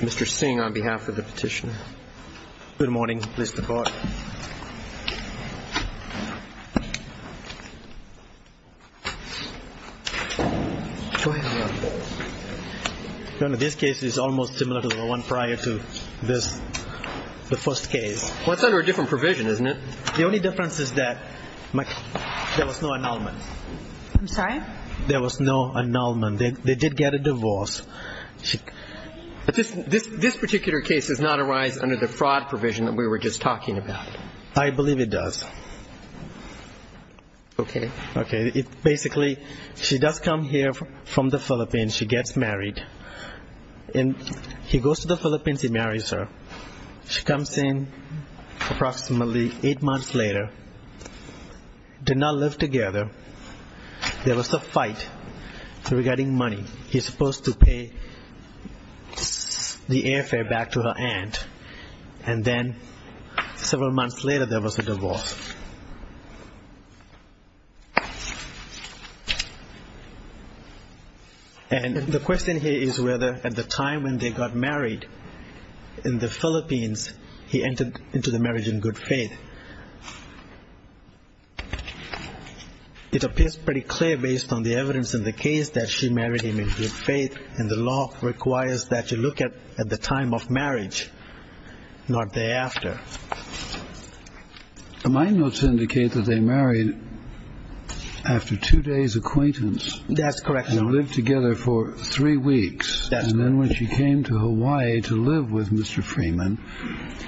Mr. Singh on behalf of the petitioner. Good morning, Mr. Court. Go ahead, Your Honor. Your Honor, this case is almost similar to the one prior to this, the first case. Well, it's under a different provision, isn't it? The only difference is that there was no annulment. I'm sorry? There was no annulment. They did get a divorce. This particular case does not arise under the fraud provision that we were just talking about. I believe it does. Okay. Okay. Basically, she does come here from the Philippines. She gets married. He goes to the Philippines. He marries her. She comes in approximately eight months later. They did not live together. There was a fight regarding money. He's supposed to pay the airfare back to her aunt. And then several months later, there was a divorce. And the question here is whether at the time when they got married in the Philippines, he entered into the marriage in good faith. It appears pretty clear based on the evidence in the case that she married him in good faith, and the law requires that you look at the time of marriage, not the day after. My notes indicate that they married after two days' acquaintance. That's correct, Your Honor. They lived together for three weeks. And then when she came to Hawaii to live with Mr. Freeman,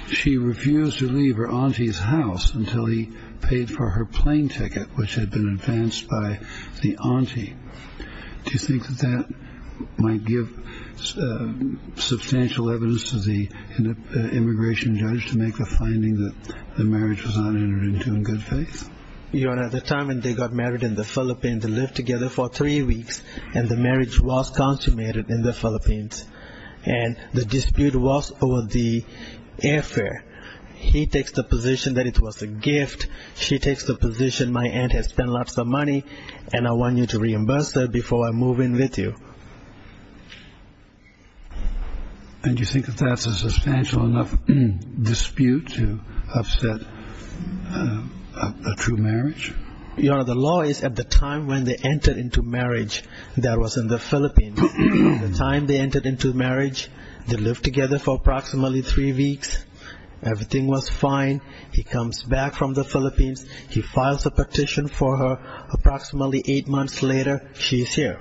she refused to leave her auntie's house until he paid for her plane ticket, which had been advanced by the auntie. Do you think that that might give substantial evidence to the immigration judge to make the finding that the marriage was not entered into in good faith? Your Honor, at the time when they got married in the Philippines, they lived together for three weeks, and the marriage was consummated in the Philippines. And the dispute was over the airfare. He takes the position that it was a gift. She takes the position my aunt has spent lots of money, and I want you to reimburse her before I move in with you. And you think that that's a substantial enough dispute to upset a true marriage? Your Honor, the law is at the time when they entered into marriage, that was in the Philippines. At the time they entered into marriage, they lived together for approximately three weeks. Everything was fine. He comes back from the Philippines. He files a petition for her. Approximately eight months later, she's here.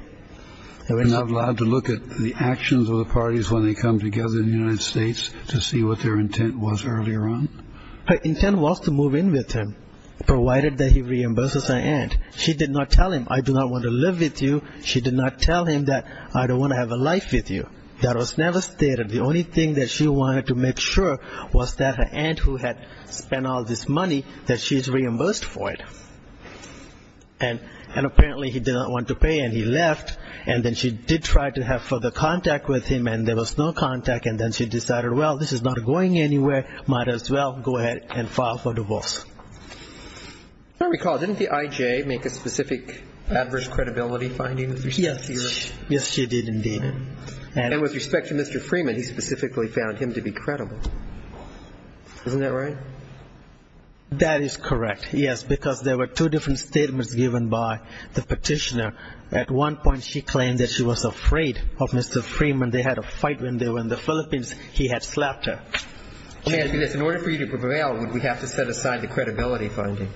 And I'm allowed to look at the actions of the parties when they come together in the United States to see what their intent was earlier on? Her intent was to move in with him, provided that he reimburses her aunt. She did not tell him, I do not want to live with you. She did not tell him that I don't want to have a life with you. That was never stated. The only thing that she wanted to make sure was that her aunt who had spent all this money, that she's reimbursed for it. And apparently he did not want to pay, and he left. And then she did try to have further contact with him, and there was no contact. And then she decided, well, this is not going anywhere. Might as well go ahead and file for divorce. I recall, didn't the IJ make a specific adverse credibility finding? Yes, she did indeed. And with respect to Mr. Freeman, he specifically found him to be credible. Isn't that right? That is correct, yes, because there were two different statements given by the petitioner. At one point she claimed that she was afraid of Mr. Freeman. When they had a fight when they were in the Philippines, he had slapped her. In order for you to prevail, would we have to set aside the credibility finding?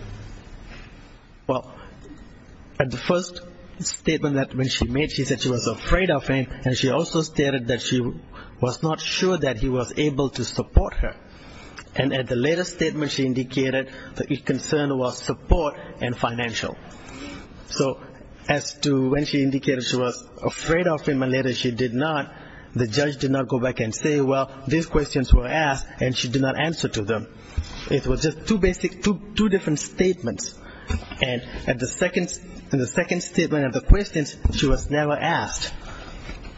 Well, at the first statement that when she made, she said she was afraid of him, and she also stated that she was not sure that he was able to support her. And at the later statement she indicated that her concern was support and financial. So as to when she indicated she was afraid of him and later she did not, the judge did not go back and say, well, these questions were asked and she did not answer to them. It was just two basic, two different statements. And at the second statement of the questions, she was never asked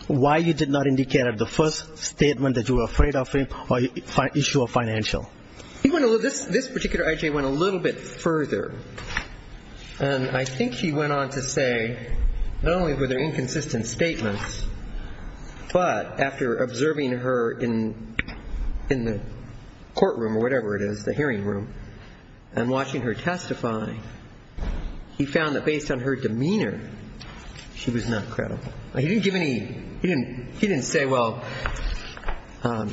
why you did not indicate at the first statement that you were afraid of him or issue of financial. This particular I.J. went a little bit further. And I think he went on to say not only were there inconsistent statements, but after observing her in the courtroom or whatever it is, the hearing room, and watching her testify, he found that based on her demeanor, she was not credible. He didn't give any, he didn't say, well,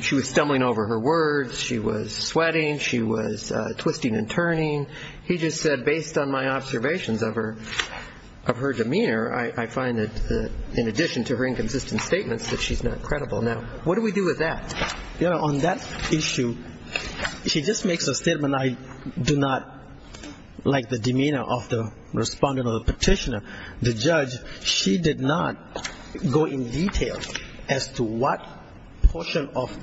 she was stumbling over her words, she was sweating, she was twisting and turning. He just said based on my observations of her demeanor, I find that in addition to her inconsistent statements that she's not credible. Now, what do we do with that? You know, on that issue, she just makes a statement, I do not like the demeanor of the respondent or the petitioner. The judge, she did not go in detail as to what portion of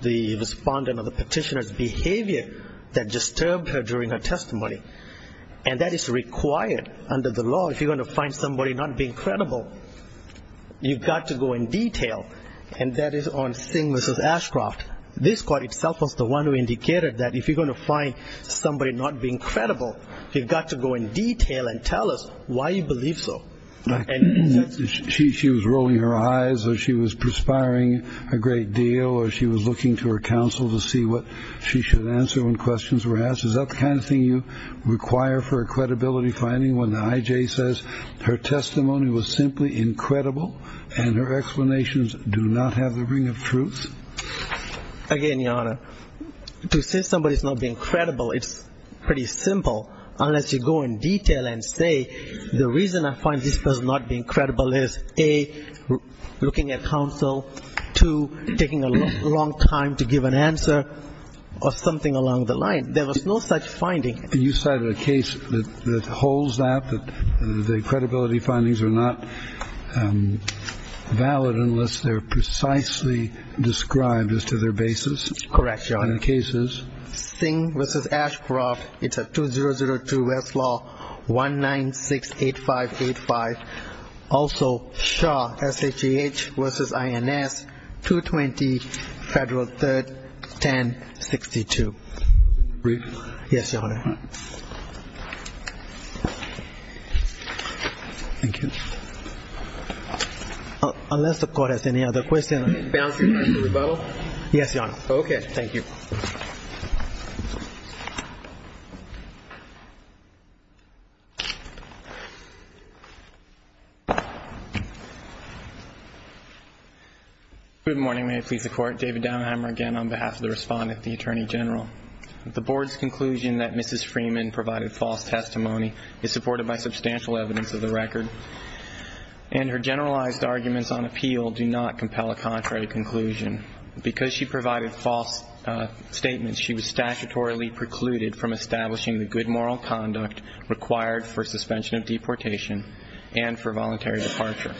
the respondent or the petitioner's behavior that disturbed her during her testimony. And that is required under the law. If you're going to find somebody not being credible, you've got to go in detail. And that is on Singh v. Ashcroft. This court itself was the one who indicated that if you're going to find somebody not being credible, you've got to go in detail and tell us why you believe so. She was rolling her eyes or she was perspiring a great deal or she was looking to her counsel to see what she should answer when questions were asked. Is that the kind of thing you require for a credibility finding when the I.J. says her testimony was simply incredible and her explanations do not have the ring of truth? Again, Your Honor, to say somebody's not being credible, it's pretty simple, unless you go in detail and say the reason I find this person not being credible is, A, looking at counsel, 2, taking a long time to give an answer or something along the line. There was no such finding. You cited a case that holds that, the credibility findings are not valid unless they're precisely described as to their basis. Correct, Your Honor. And the case is? Singh v. Ashcroft. It's a 2002 Westlaw 1968585. Also Shaw, S-H-A-H v. I-N-S 220 Federal 3rd 1062. Brief? Yes, Your Honor. All right. Thank you. Unless the Court has any other questions. Bouncing back to rebuttal? Yes, Your Honor. Okay. Thank you. Good morning. May it please the Court. David Downhamer again on behalf of the Respondent, the Attorney General. The Board's conclusion that Mrs. Freeman provided false testimony is supported by substantial evidence of the record, and her generalized arguments on appeal do not compel a contrary conclusion. Because she provided false statements, she was statutorily precluded from establishing the good moral conduct required for suspension of deportation and for voluntary departure.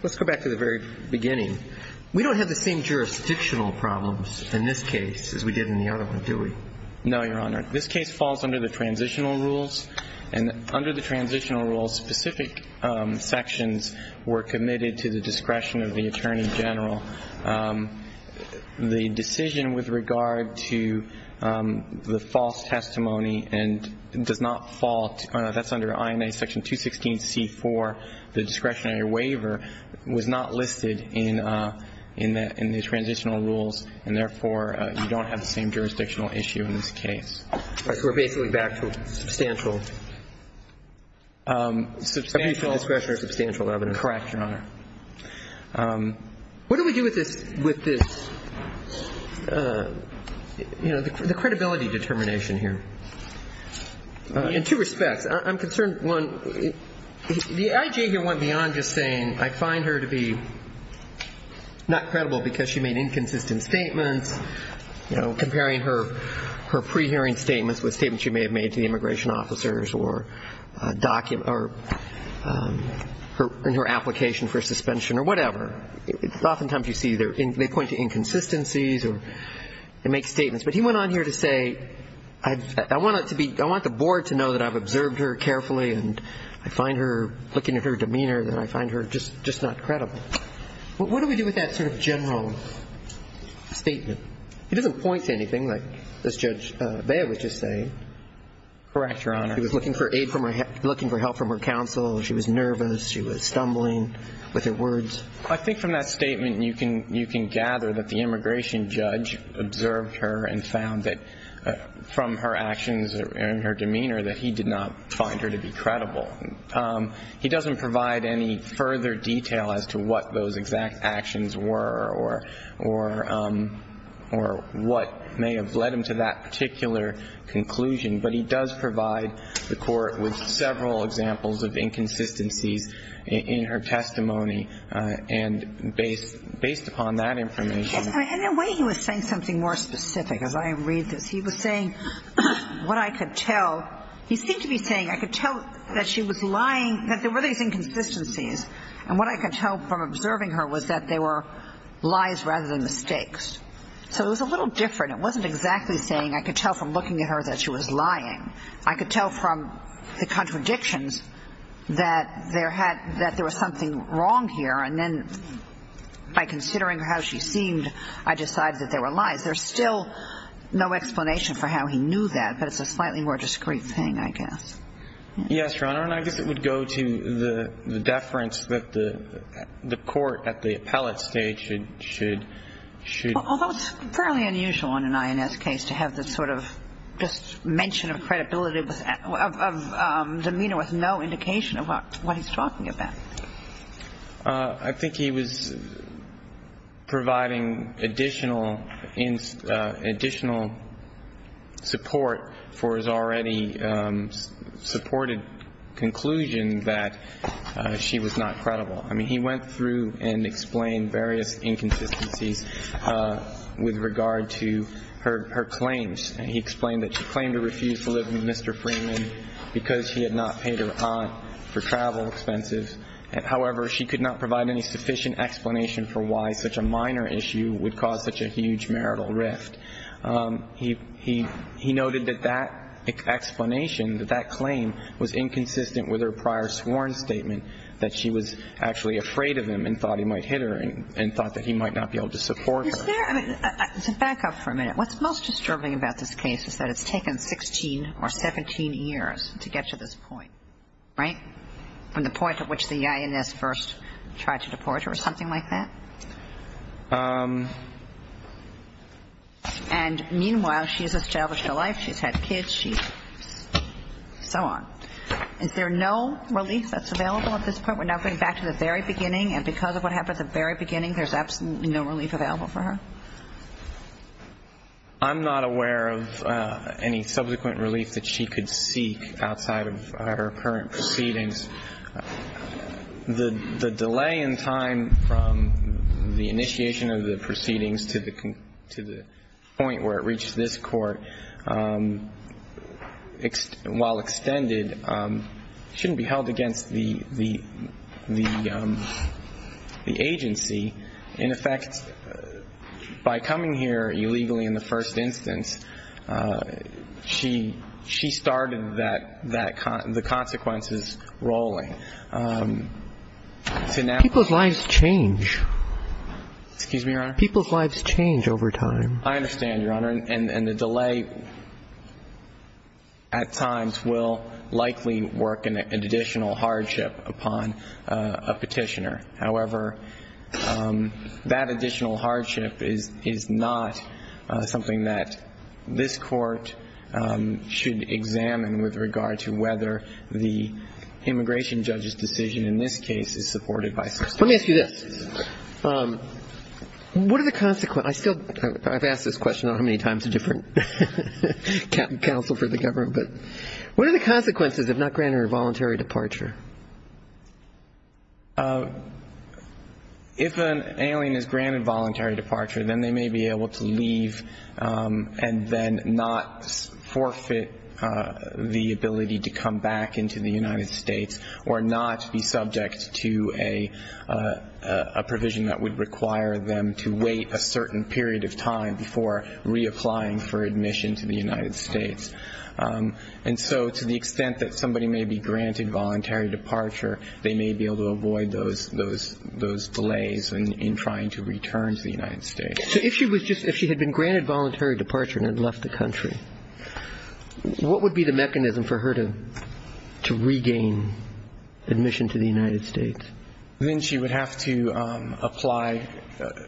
Let's go back to the very beginning. We don't have the same jurisdictional problems in this case as we did in the other one, do we? No, Your Honor. This case falls under the transitional rules, and under the transitional rules specific sections were committed to the discretion of the Attorney General. The decision with regard to the false testimony and does not fall, that's under INA section 216C4, the discretionary waiver, was not listed in the transitional rules, and therefore you don't have the same jurisdictional issue in this case. So we're basically back to substantial. Substantial discretion or substantial evidence. Correct, Your Honor. What do we do with this, you know, the credibility determination here? In two respects. I'm concerned, one, the I.J. here went beyond just saying I find her to be not credible because she made inconsistent statements, you know, comparing her pre-hearing statements with statements she may have made to the immigration officers or in her application for suspension or whatever. Oftentimes you see they point to inconsistencies and make statements. But he went on here to say I want the Board to know that I've observed her carefully and I find her, looking at her demeanor, that I find her just not credible. What do we do with that sort of general statement? He doesn't point to anything like this Judge Bea was just saying. Correct, Your Honor. She was looking for help from her counsel. She was nervous. She was stumbling with her words. I think from that statement you can gather that the immigration judge observed her and found that from her actions and her demeanor that he did not find her to be credible. He doesn't provide any further detail as to what those exact actions were or what may have led him to that particular conclusion. But he does provide the Court with several examples of inconsistencies in her testimony. And based upon that information. In a way he was saying something more specific as I read this. He was saying what I could tell. He seemed to be saying I could tell that she was lying, that there were these inconsistencies. And what I could tell from observing her was that they were lies rather than mistakes. So it was a little different. It wasn't exactly saying I could tell from looking at her that she was lying. I could tell from the contradictions that there was something wrong here. And then by considering how she seemed I decided that they were lies. There's still no explanation for how he knew that. But it's a slightly more discreet thing I guess. Yes, Your Honor. And I guess it would go to the deference that the Court at the appellate stage should. Although it's fairly unusual in an INS case to have this sort of just mention of credibility, of demeanor with no indication of what he's talking about. I think he was providing additional support for his already supported conclusion that she was not credible. I mean, he went through and explained various inconsistencies with regard to her claims. He explained that she claimed to refuse to live with Mr. Freeman because she had not paid her aunt for travel expenses. However, she could not provide any sufficient explanation for why such a minor issue would cause such a huge marital rift. He noted that that explanation, that that claim was inconsistent with her prior sworn statement, that she was actually afraid of him and thought he might hit her and thought that he might not be able to support her. To back up for a minute, what's most disturbing about this case is that it's taken 16 or 17 years to get to this point, right? From the point at which the INS first tried to deport her or something like that? And meanwhile, she's established a life. She's had kids. She's so on. Is there no relief that's available at this point? We're now going back to the very beginning. And because of what happened at the very beginning, there's absolutely no relief available for her. I'm not aware of any subsequent relief that she could seek outside of her current proceedings. The delay in time from the initiation of the proceedings to the point where it reached this court, while extended, shouldn't be held against the agency. In effect, by coming here illegally in the first instance, she started the consequences rolling. People's lives change. Excuse me, Your Honor? People's lives change over time. I understand, Your Honor. And the delay at times will likely work an additional hardship upon a petitioner. However, that additional hardship is not something that this court should examine with regard to whether the immigration judge's decision in this case is supported by the system. Let me ask you this. What are the consequences? I've asked this question on how many times a different counsel for the government. What are the consequences if not granted her voluntary departure? If an alien is granted voluntary departure, then they may be able to leave and then not forfeit the ability to come back into the United States or not be subject to a provision that would require them to wait a certain period of time before reapplying for admission to the United States. And so to the extent that somebody may be granted voluntary departure, they may be able to avoid those delays in trying to return to the United States. So if she had been granted voluntary departure and had left the country, what would be the mechanism for her to regain admission to the United States? Then she would have to apply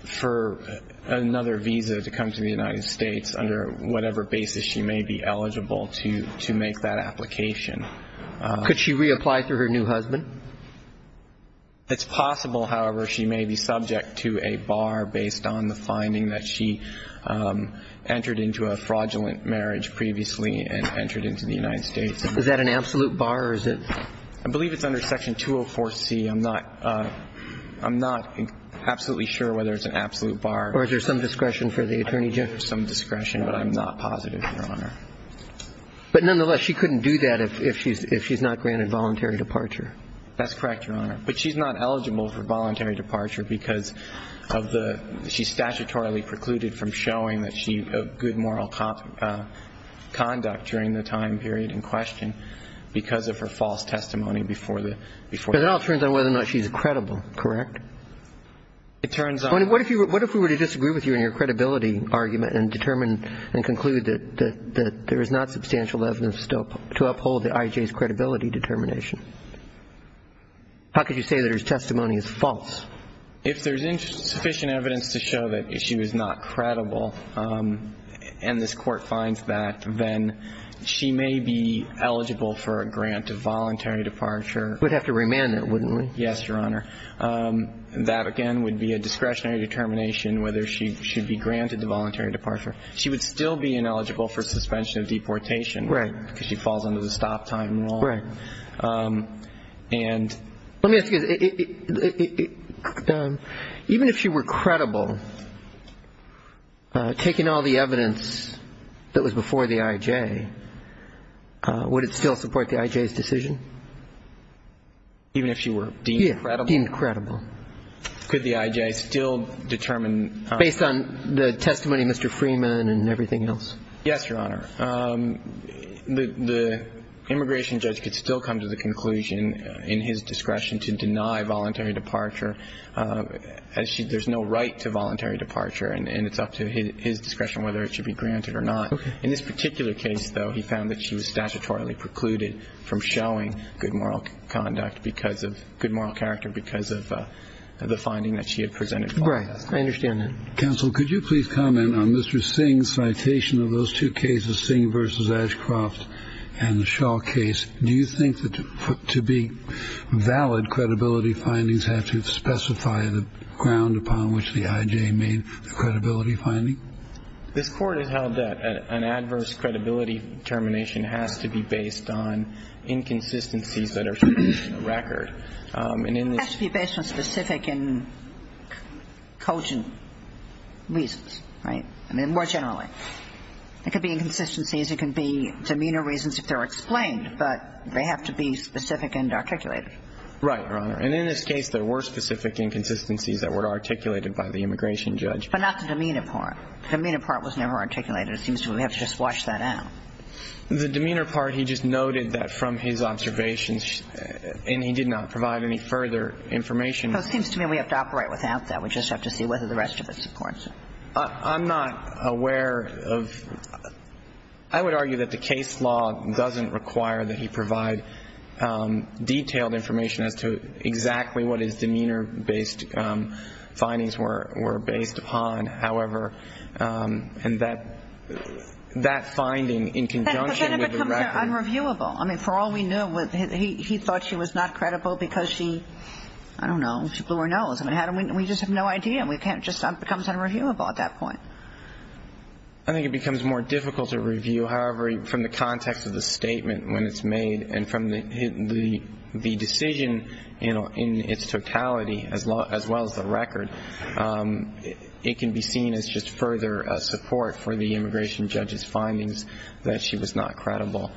for another visa to come to the United States under whatever basis she may be eligible to make that application. Could she reapply through her new husband? It's possible, however, she may be subject to a bar based on the finding that she entered into a fraudulent marriage previously and entered into the United States. Is that an absolute bar or is it? I believe it's under Section 204C. I'm not absolutely sure whether it's an absolute bar. Or is there some discretion for the attorney general? There's some discretion, but I'm not positive, Your Honor. But nonetheless, she couldn't do that if she's not granted voluntary departure. That's correct, Your Honor. But she's not eligible for voluntary departure because of the – she's statutorily precluded from showing that she had good moral conduct during the time period in question because of her false testimony before the – But it all turns out whether or not she's credible, correct? It turns out – What if we were to disagree with you in your credibility argument and determine and conclude that there is not substantial evidence to uphold the IJ's credibility determination? How could you say that her testimony is false? If there's insufficient evidence to show that she was not credible and this Court finds that, then she may be eligible for a grant of voluntary departure. We'd have to remand that, wouldn't we? Yes, Your Honor. That, again, would be a discretionary determination whether she should be granted the voluntary departure. She would still be ineligible for suspension of deportation because she falls under the stop-time law. Right. And – Let me ask you this. Even if she were credible, taking all the evidence that was before the IJ, would it still support the IJ's decision? Even if she were deemed credible? Yeah, deemed credible. Could the IJ still determine – Based on the testimony of Mr. Freeman and everything else. Yes, Your Honor. The immigration judge could still come to the conclusion in his discretion to deny voluntary departure. There's no right to voluntary departure. And it's up to his discretion whether it should be granted or not. In this particular case, though, he found that she was statutorily precluded from showing good moral conduct because of – good moral character because of the finding that she had presented. Right. I understand that. Counsel, could you please comment on Mr. Singh's citation of those two cases, Singh v. Ashcroft and the Shaw case? Do you think that to be valid, credibility findings have to specify the ground upon which the IJ made the credibility finding? This Court has held that an adverse credibility determination has to be based on inconsistencies that are shown in the record. And in this – It has to be based on specific and cogent reasons. Right? I mean, more generally. It could be inconsistencies. It could be demeanor reasons if they're explained, but they have to be specific and articulated. Right, Your Honor. And in this case, there were specific inconsistencies that were articulated by the immigration judge. But not the demeanor part. The demeanor part was never articulated. It seems to me we have to just wash that out. The demeanor part, he just noted that from his observations, and he did not provide any further information. So it seems to me we have to operate without that. We just have to see whether the rest of it supports it. I'm not aware of – I would argue that the case law doesn't require that he provide detailed information as to exactly what his demeanor-based findings were based upon. However, that finding in conjunction with the record – That becomes unreviewable. I mean, for all we know, he thought she was not credible because she, I don't know, she blew her nose. I mean, we just have no idea. It just becomes unreviewable at that point. I think it becomes more difficult to review. However, from the context of the statement when it's made and from the decision, you know, in its totality as well as the record, it can be seen as just further support for the immigration judge's findings that she was not credible.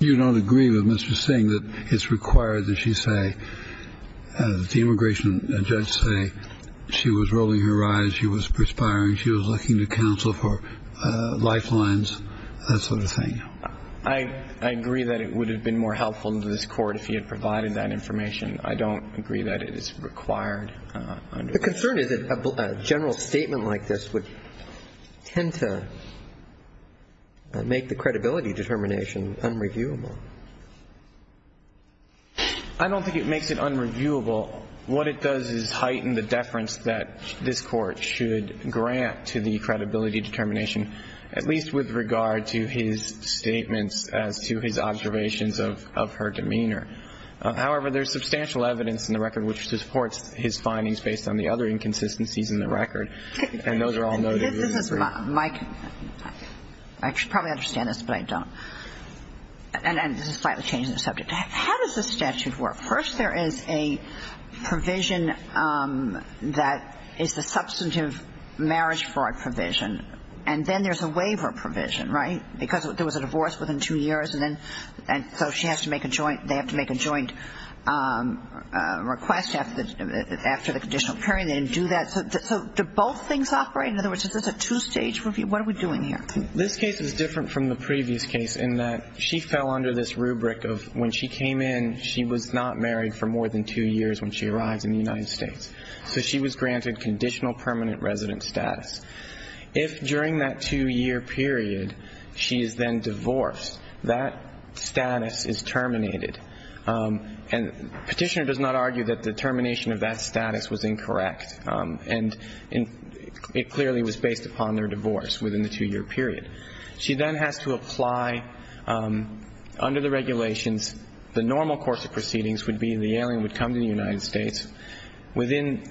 You don't agree with Mr. Singh that it's required that she say – that the immigration judge say she was rolling her eyes, she was perspiring, she was looking to counsel for lifelines, that sort of thing? I agree that it would have been more helpful to this Court if he had provided that information. I don't agree that it is required. The concern is that a general statement like this would tend to make the credibility determination unreviewable. I don't think it makes it unreviewable. What it does is heighten the deference that this Court should grant to the credibility determination, at least with regard to his statements as to his observations of her demeanor. However, there's substantial evidence in the record which supports his findings based on the other inconsistencies in the record, and those are all noted here. This is my – I should probably understand this, but I don't. And this is slightly changing the subject. How does the statute work? First, there is a provision that is the substantive marriage fraud provision, and then there's a waiver provision, right? Because there was a divorce within two years, and then – and so she has to make a joint – they have to make a joint request after the conditional period. They didn't do that. So do both things operate? In other words, is this a two-stage review? What are we doing here? This case is different from the previous case in that she fell under this rubric of when she came in, she was not married for more than two years when she arrived in the United States. So she was granted conditional permanent resident status. If during that two-year period she is then divorced, that status is terminated. And Petitioner does not argue that the termination of that status was incorrect, and it clearly was based upon their divorce within the two-year period. She then has to apply under the regulations. The normal course of proceedings would be the alien would come to the United States.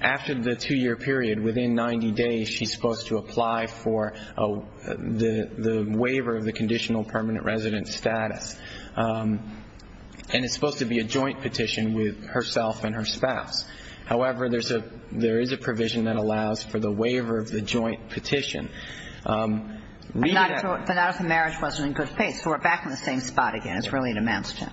After the two-year period, within 90 days, she's supposed to apply for the waiver of the conditional permanent resident status. And it's supposed to be a joint petition with herself and her spouse. However, there is a provision that allows for the waiver of the joint petition. But not if the marriage wasn't in good faith. So we're back in the same spot again. It's really in a man's tent.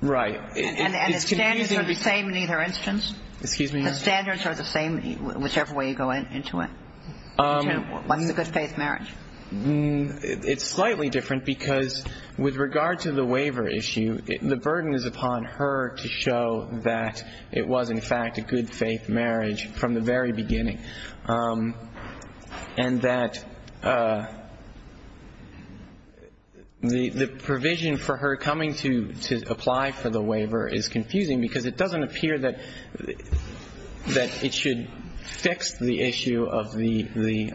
Right. And the standards are the same in either instance? Excuse me? The standards are the same whichever way you go into it. What's a good faith marriage? It's slightly different because with regard to the waiver issue, the burden is upon her to show that it was, in fact, a good faith marriage from the very beginning. And that the provision for her coming to apply for the waiver is confusing because it doesn't appear that it should fix the issue of the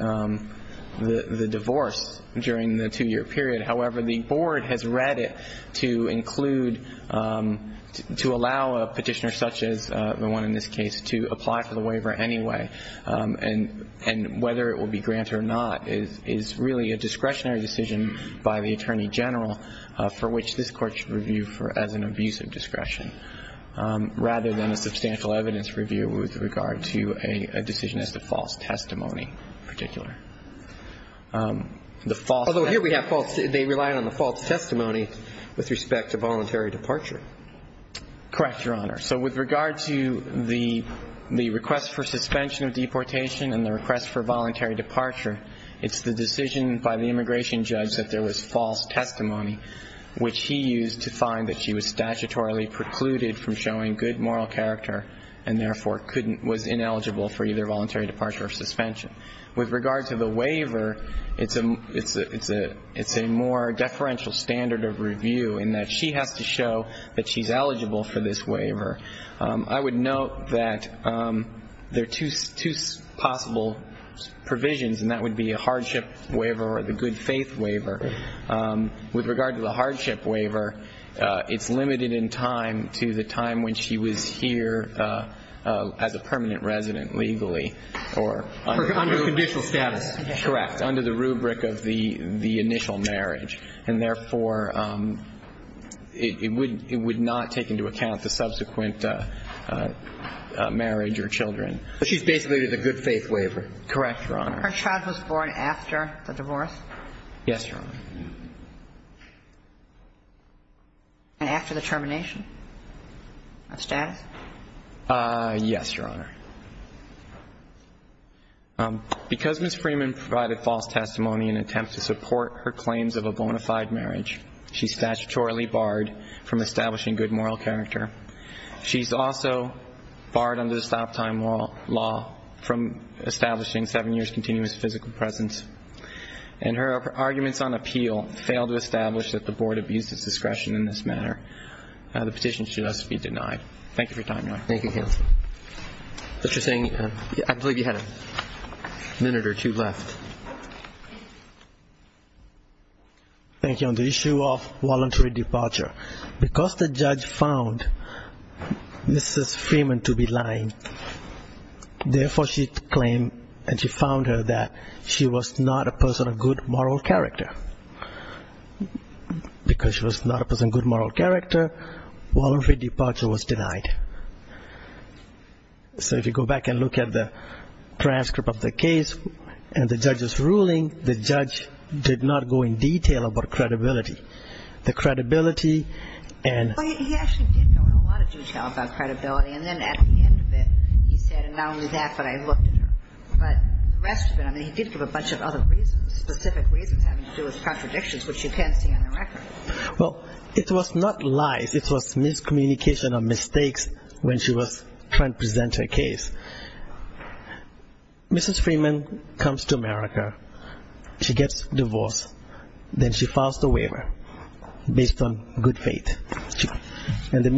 divorce during the two-year period. However, the board has read it to include, to allow a petitioner such as the one in this case to apply for the waiver anyway. And whether it will be granted or not is really a discretionary decision by the Attorney General for which this Court should review as an abusive discretion, rather than a substantial evidence review with regard to a decision as to false testimony in particular. Although here we have false testimony. They rely on the false testimony with respect to voluntary departure. Correct, Your Honor. So with regard to the request for suspension of deportation and the request for voluntary departure, it's the decision by the immigration judge that there was false testimony, which he used to find that she was statutorily precluded from showing good moral character and therefore was ineligible for either voluntary departure or suspension. With regard to the waiver, it's a more deferential standard of review in that she has to show that she's eligible for this waiver. I would note that there are two possible provisions, and that would be a hardship waiver or the good faith waiver. With regard to the hardship waiver, it's limited in time to the time when she was here as a permanent resident legally. Under conditional status. Correct, under the rubric of the initial marriage. And therefore, it would not take into account the subsequent marriage or children. She's basically with a good faith waiver. Correct, Your Honor. Her child was born after the divorce? Yes, Your Honor. And after the termination of status? Yes, Your Honor. Because Ms. Freeman provided false testimony in an attempt to support her claims of a bona fide marriage, she's statutorily barred from establishing good moral character. She's also barred under the stop time law from establishing seven years' continuous physical presence. And her arguments on appeal fail to establish that the Board abused its discretion in this matter. The petition should thus be denied. Thank you for your time, Your Honor. Thank you, counsel. What you're saying, I believe you had a minute or two left. Thank you. On the issue of voluntary departure, because the judge found Mrs. Freeman to be lying, therefore she claimed and she found her that she was not a person of good moral character. Because she was not a person of good moral character, voluntary departure was denied. So if you go back and look at the transcript of the case and the judge's ruling, the judge did not go in detail about credibility. The credibility and... Well, he actually did go into a lot of detail about credibility. And then at the end of it, he said, and not only that, but I looked at her. But the rest of it, I mean, he did give a bunch of other reasons, specific reasons having to do with contradictions, which you can't see on the record. Well, it was not lies. It was miscommunication of mistakes when she was trying to present her case. Mrs. Freeman comes to America. She gets divorced. Then she files the waiver based on good faith. In the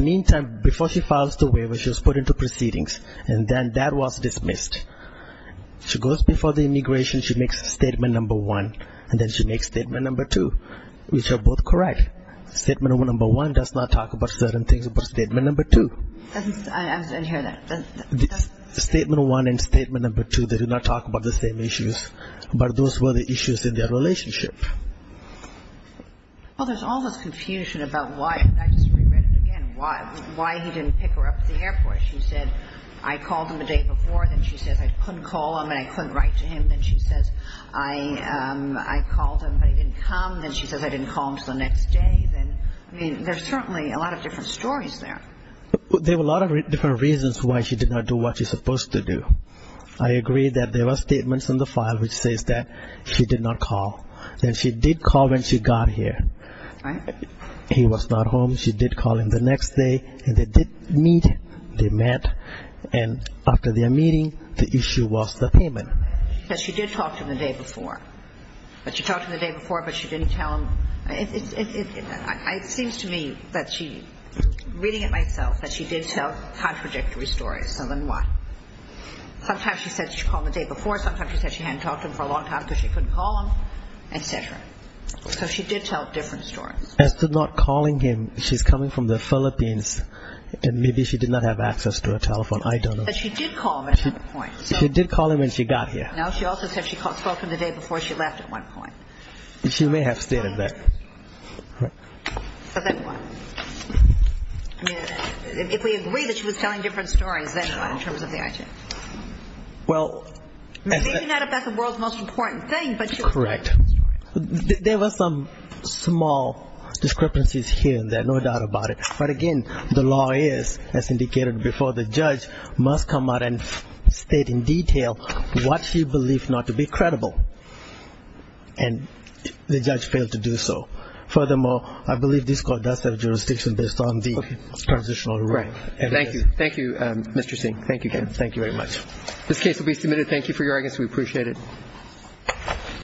meantime, before she files the waiver, she was put into proceedings, and then that was dismissed. She goes before the immigration, she makes statement number one, and then she makes statement number two, which are both correct. Statement number one does not talk about certain things about statement number two. I didn't hear that. Statement one and statement number two, they do not talk about the same issues, but those were the issues in their relationship. Well, there's all this confusion about why, and I just reread it again, why he didn't pick her up at the airport. She said, I called him the day before. Then she says, I couldn't call him and I couldn't write to him. Then she says, I called him, but he didn't come. Then she says, I didn't call him until the next day. I mean, there's certainly a lot of different stories there. There were a lot of different reasons why she did not do what she's supposed to do. I agree that there were statements in the file which says that she did not call. Then she did call when she got here. He was not home. She did call him the next day, and they did meet. They met, and after their meeting, the issue was the payment. She did talk to him the day before. But she talked to him the day before, but she didn't tell him. It seems to me that she, reading it myself, that she did tell contradictory stories. So then what? Sometimes she said she called him the day before. Sometimes she said she hadn't talked to him for a long time because she couldn't call him, etc. So she did tell different stories. As to not calling him, she's coming from the Philippines, and maybe she did not have access to a telephone. I don't know. But she did call him at some point. She did call him when she got here. No, she also said she spoke to him the day before she left at one point. She may have stated that. But then what? I mean, if we agree that she was telling different stories, then what in terms of the item? Well, as a – Maybe not if that's the world's most important thing, but she – Correct. There were some small discrepancies here and there, no doubt about it. But again, the law is, as indicated before, the judge must come out and state in detail what she believes not to be credible. And the judge failed to do so. Furthermore, I believe this court does have jurisdiction based on the transitional rule. Thank you. Thank you, Mr. Singh. Thank you again. Thank you very much. This case will be submitted. Thank you for your audience.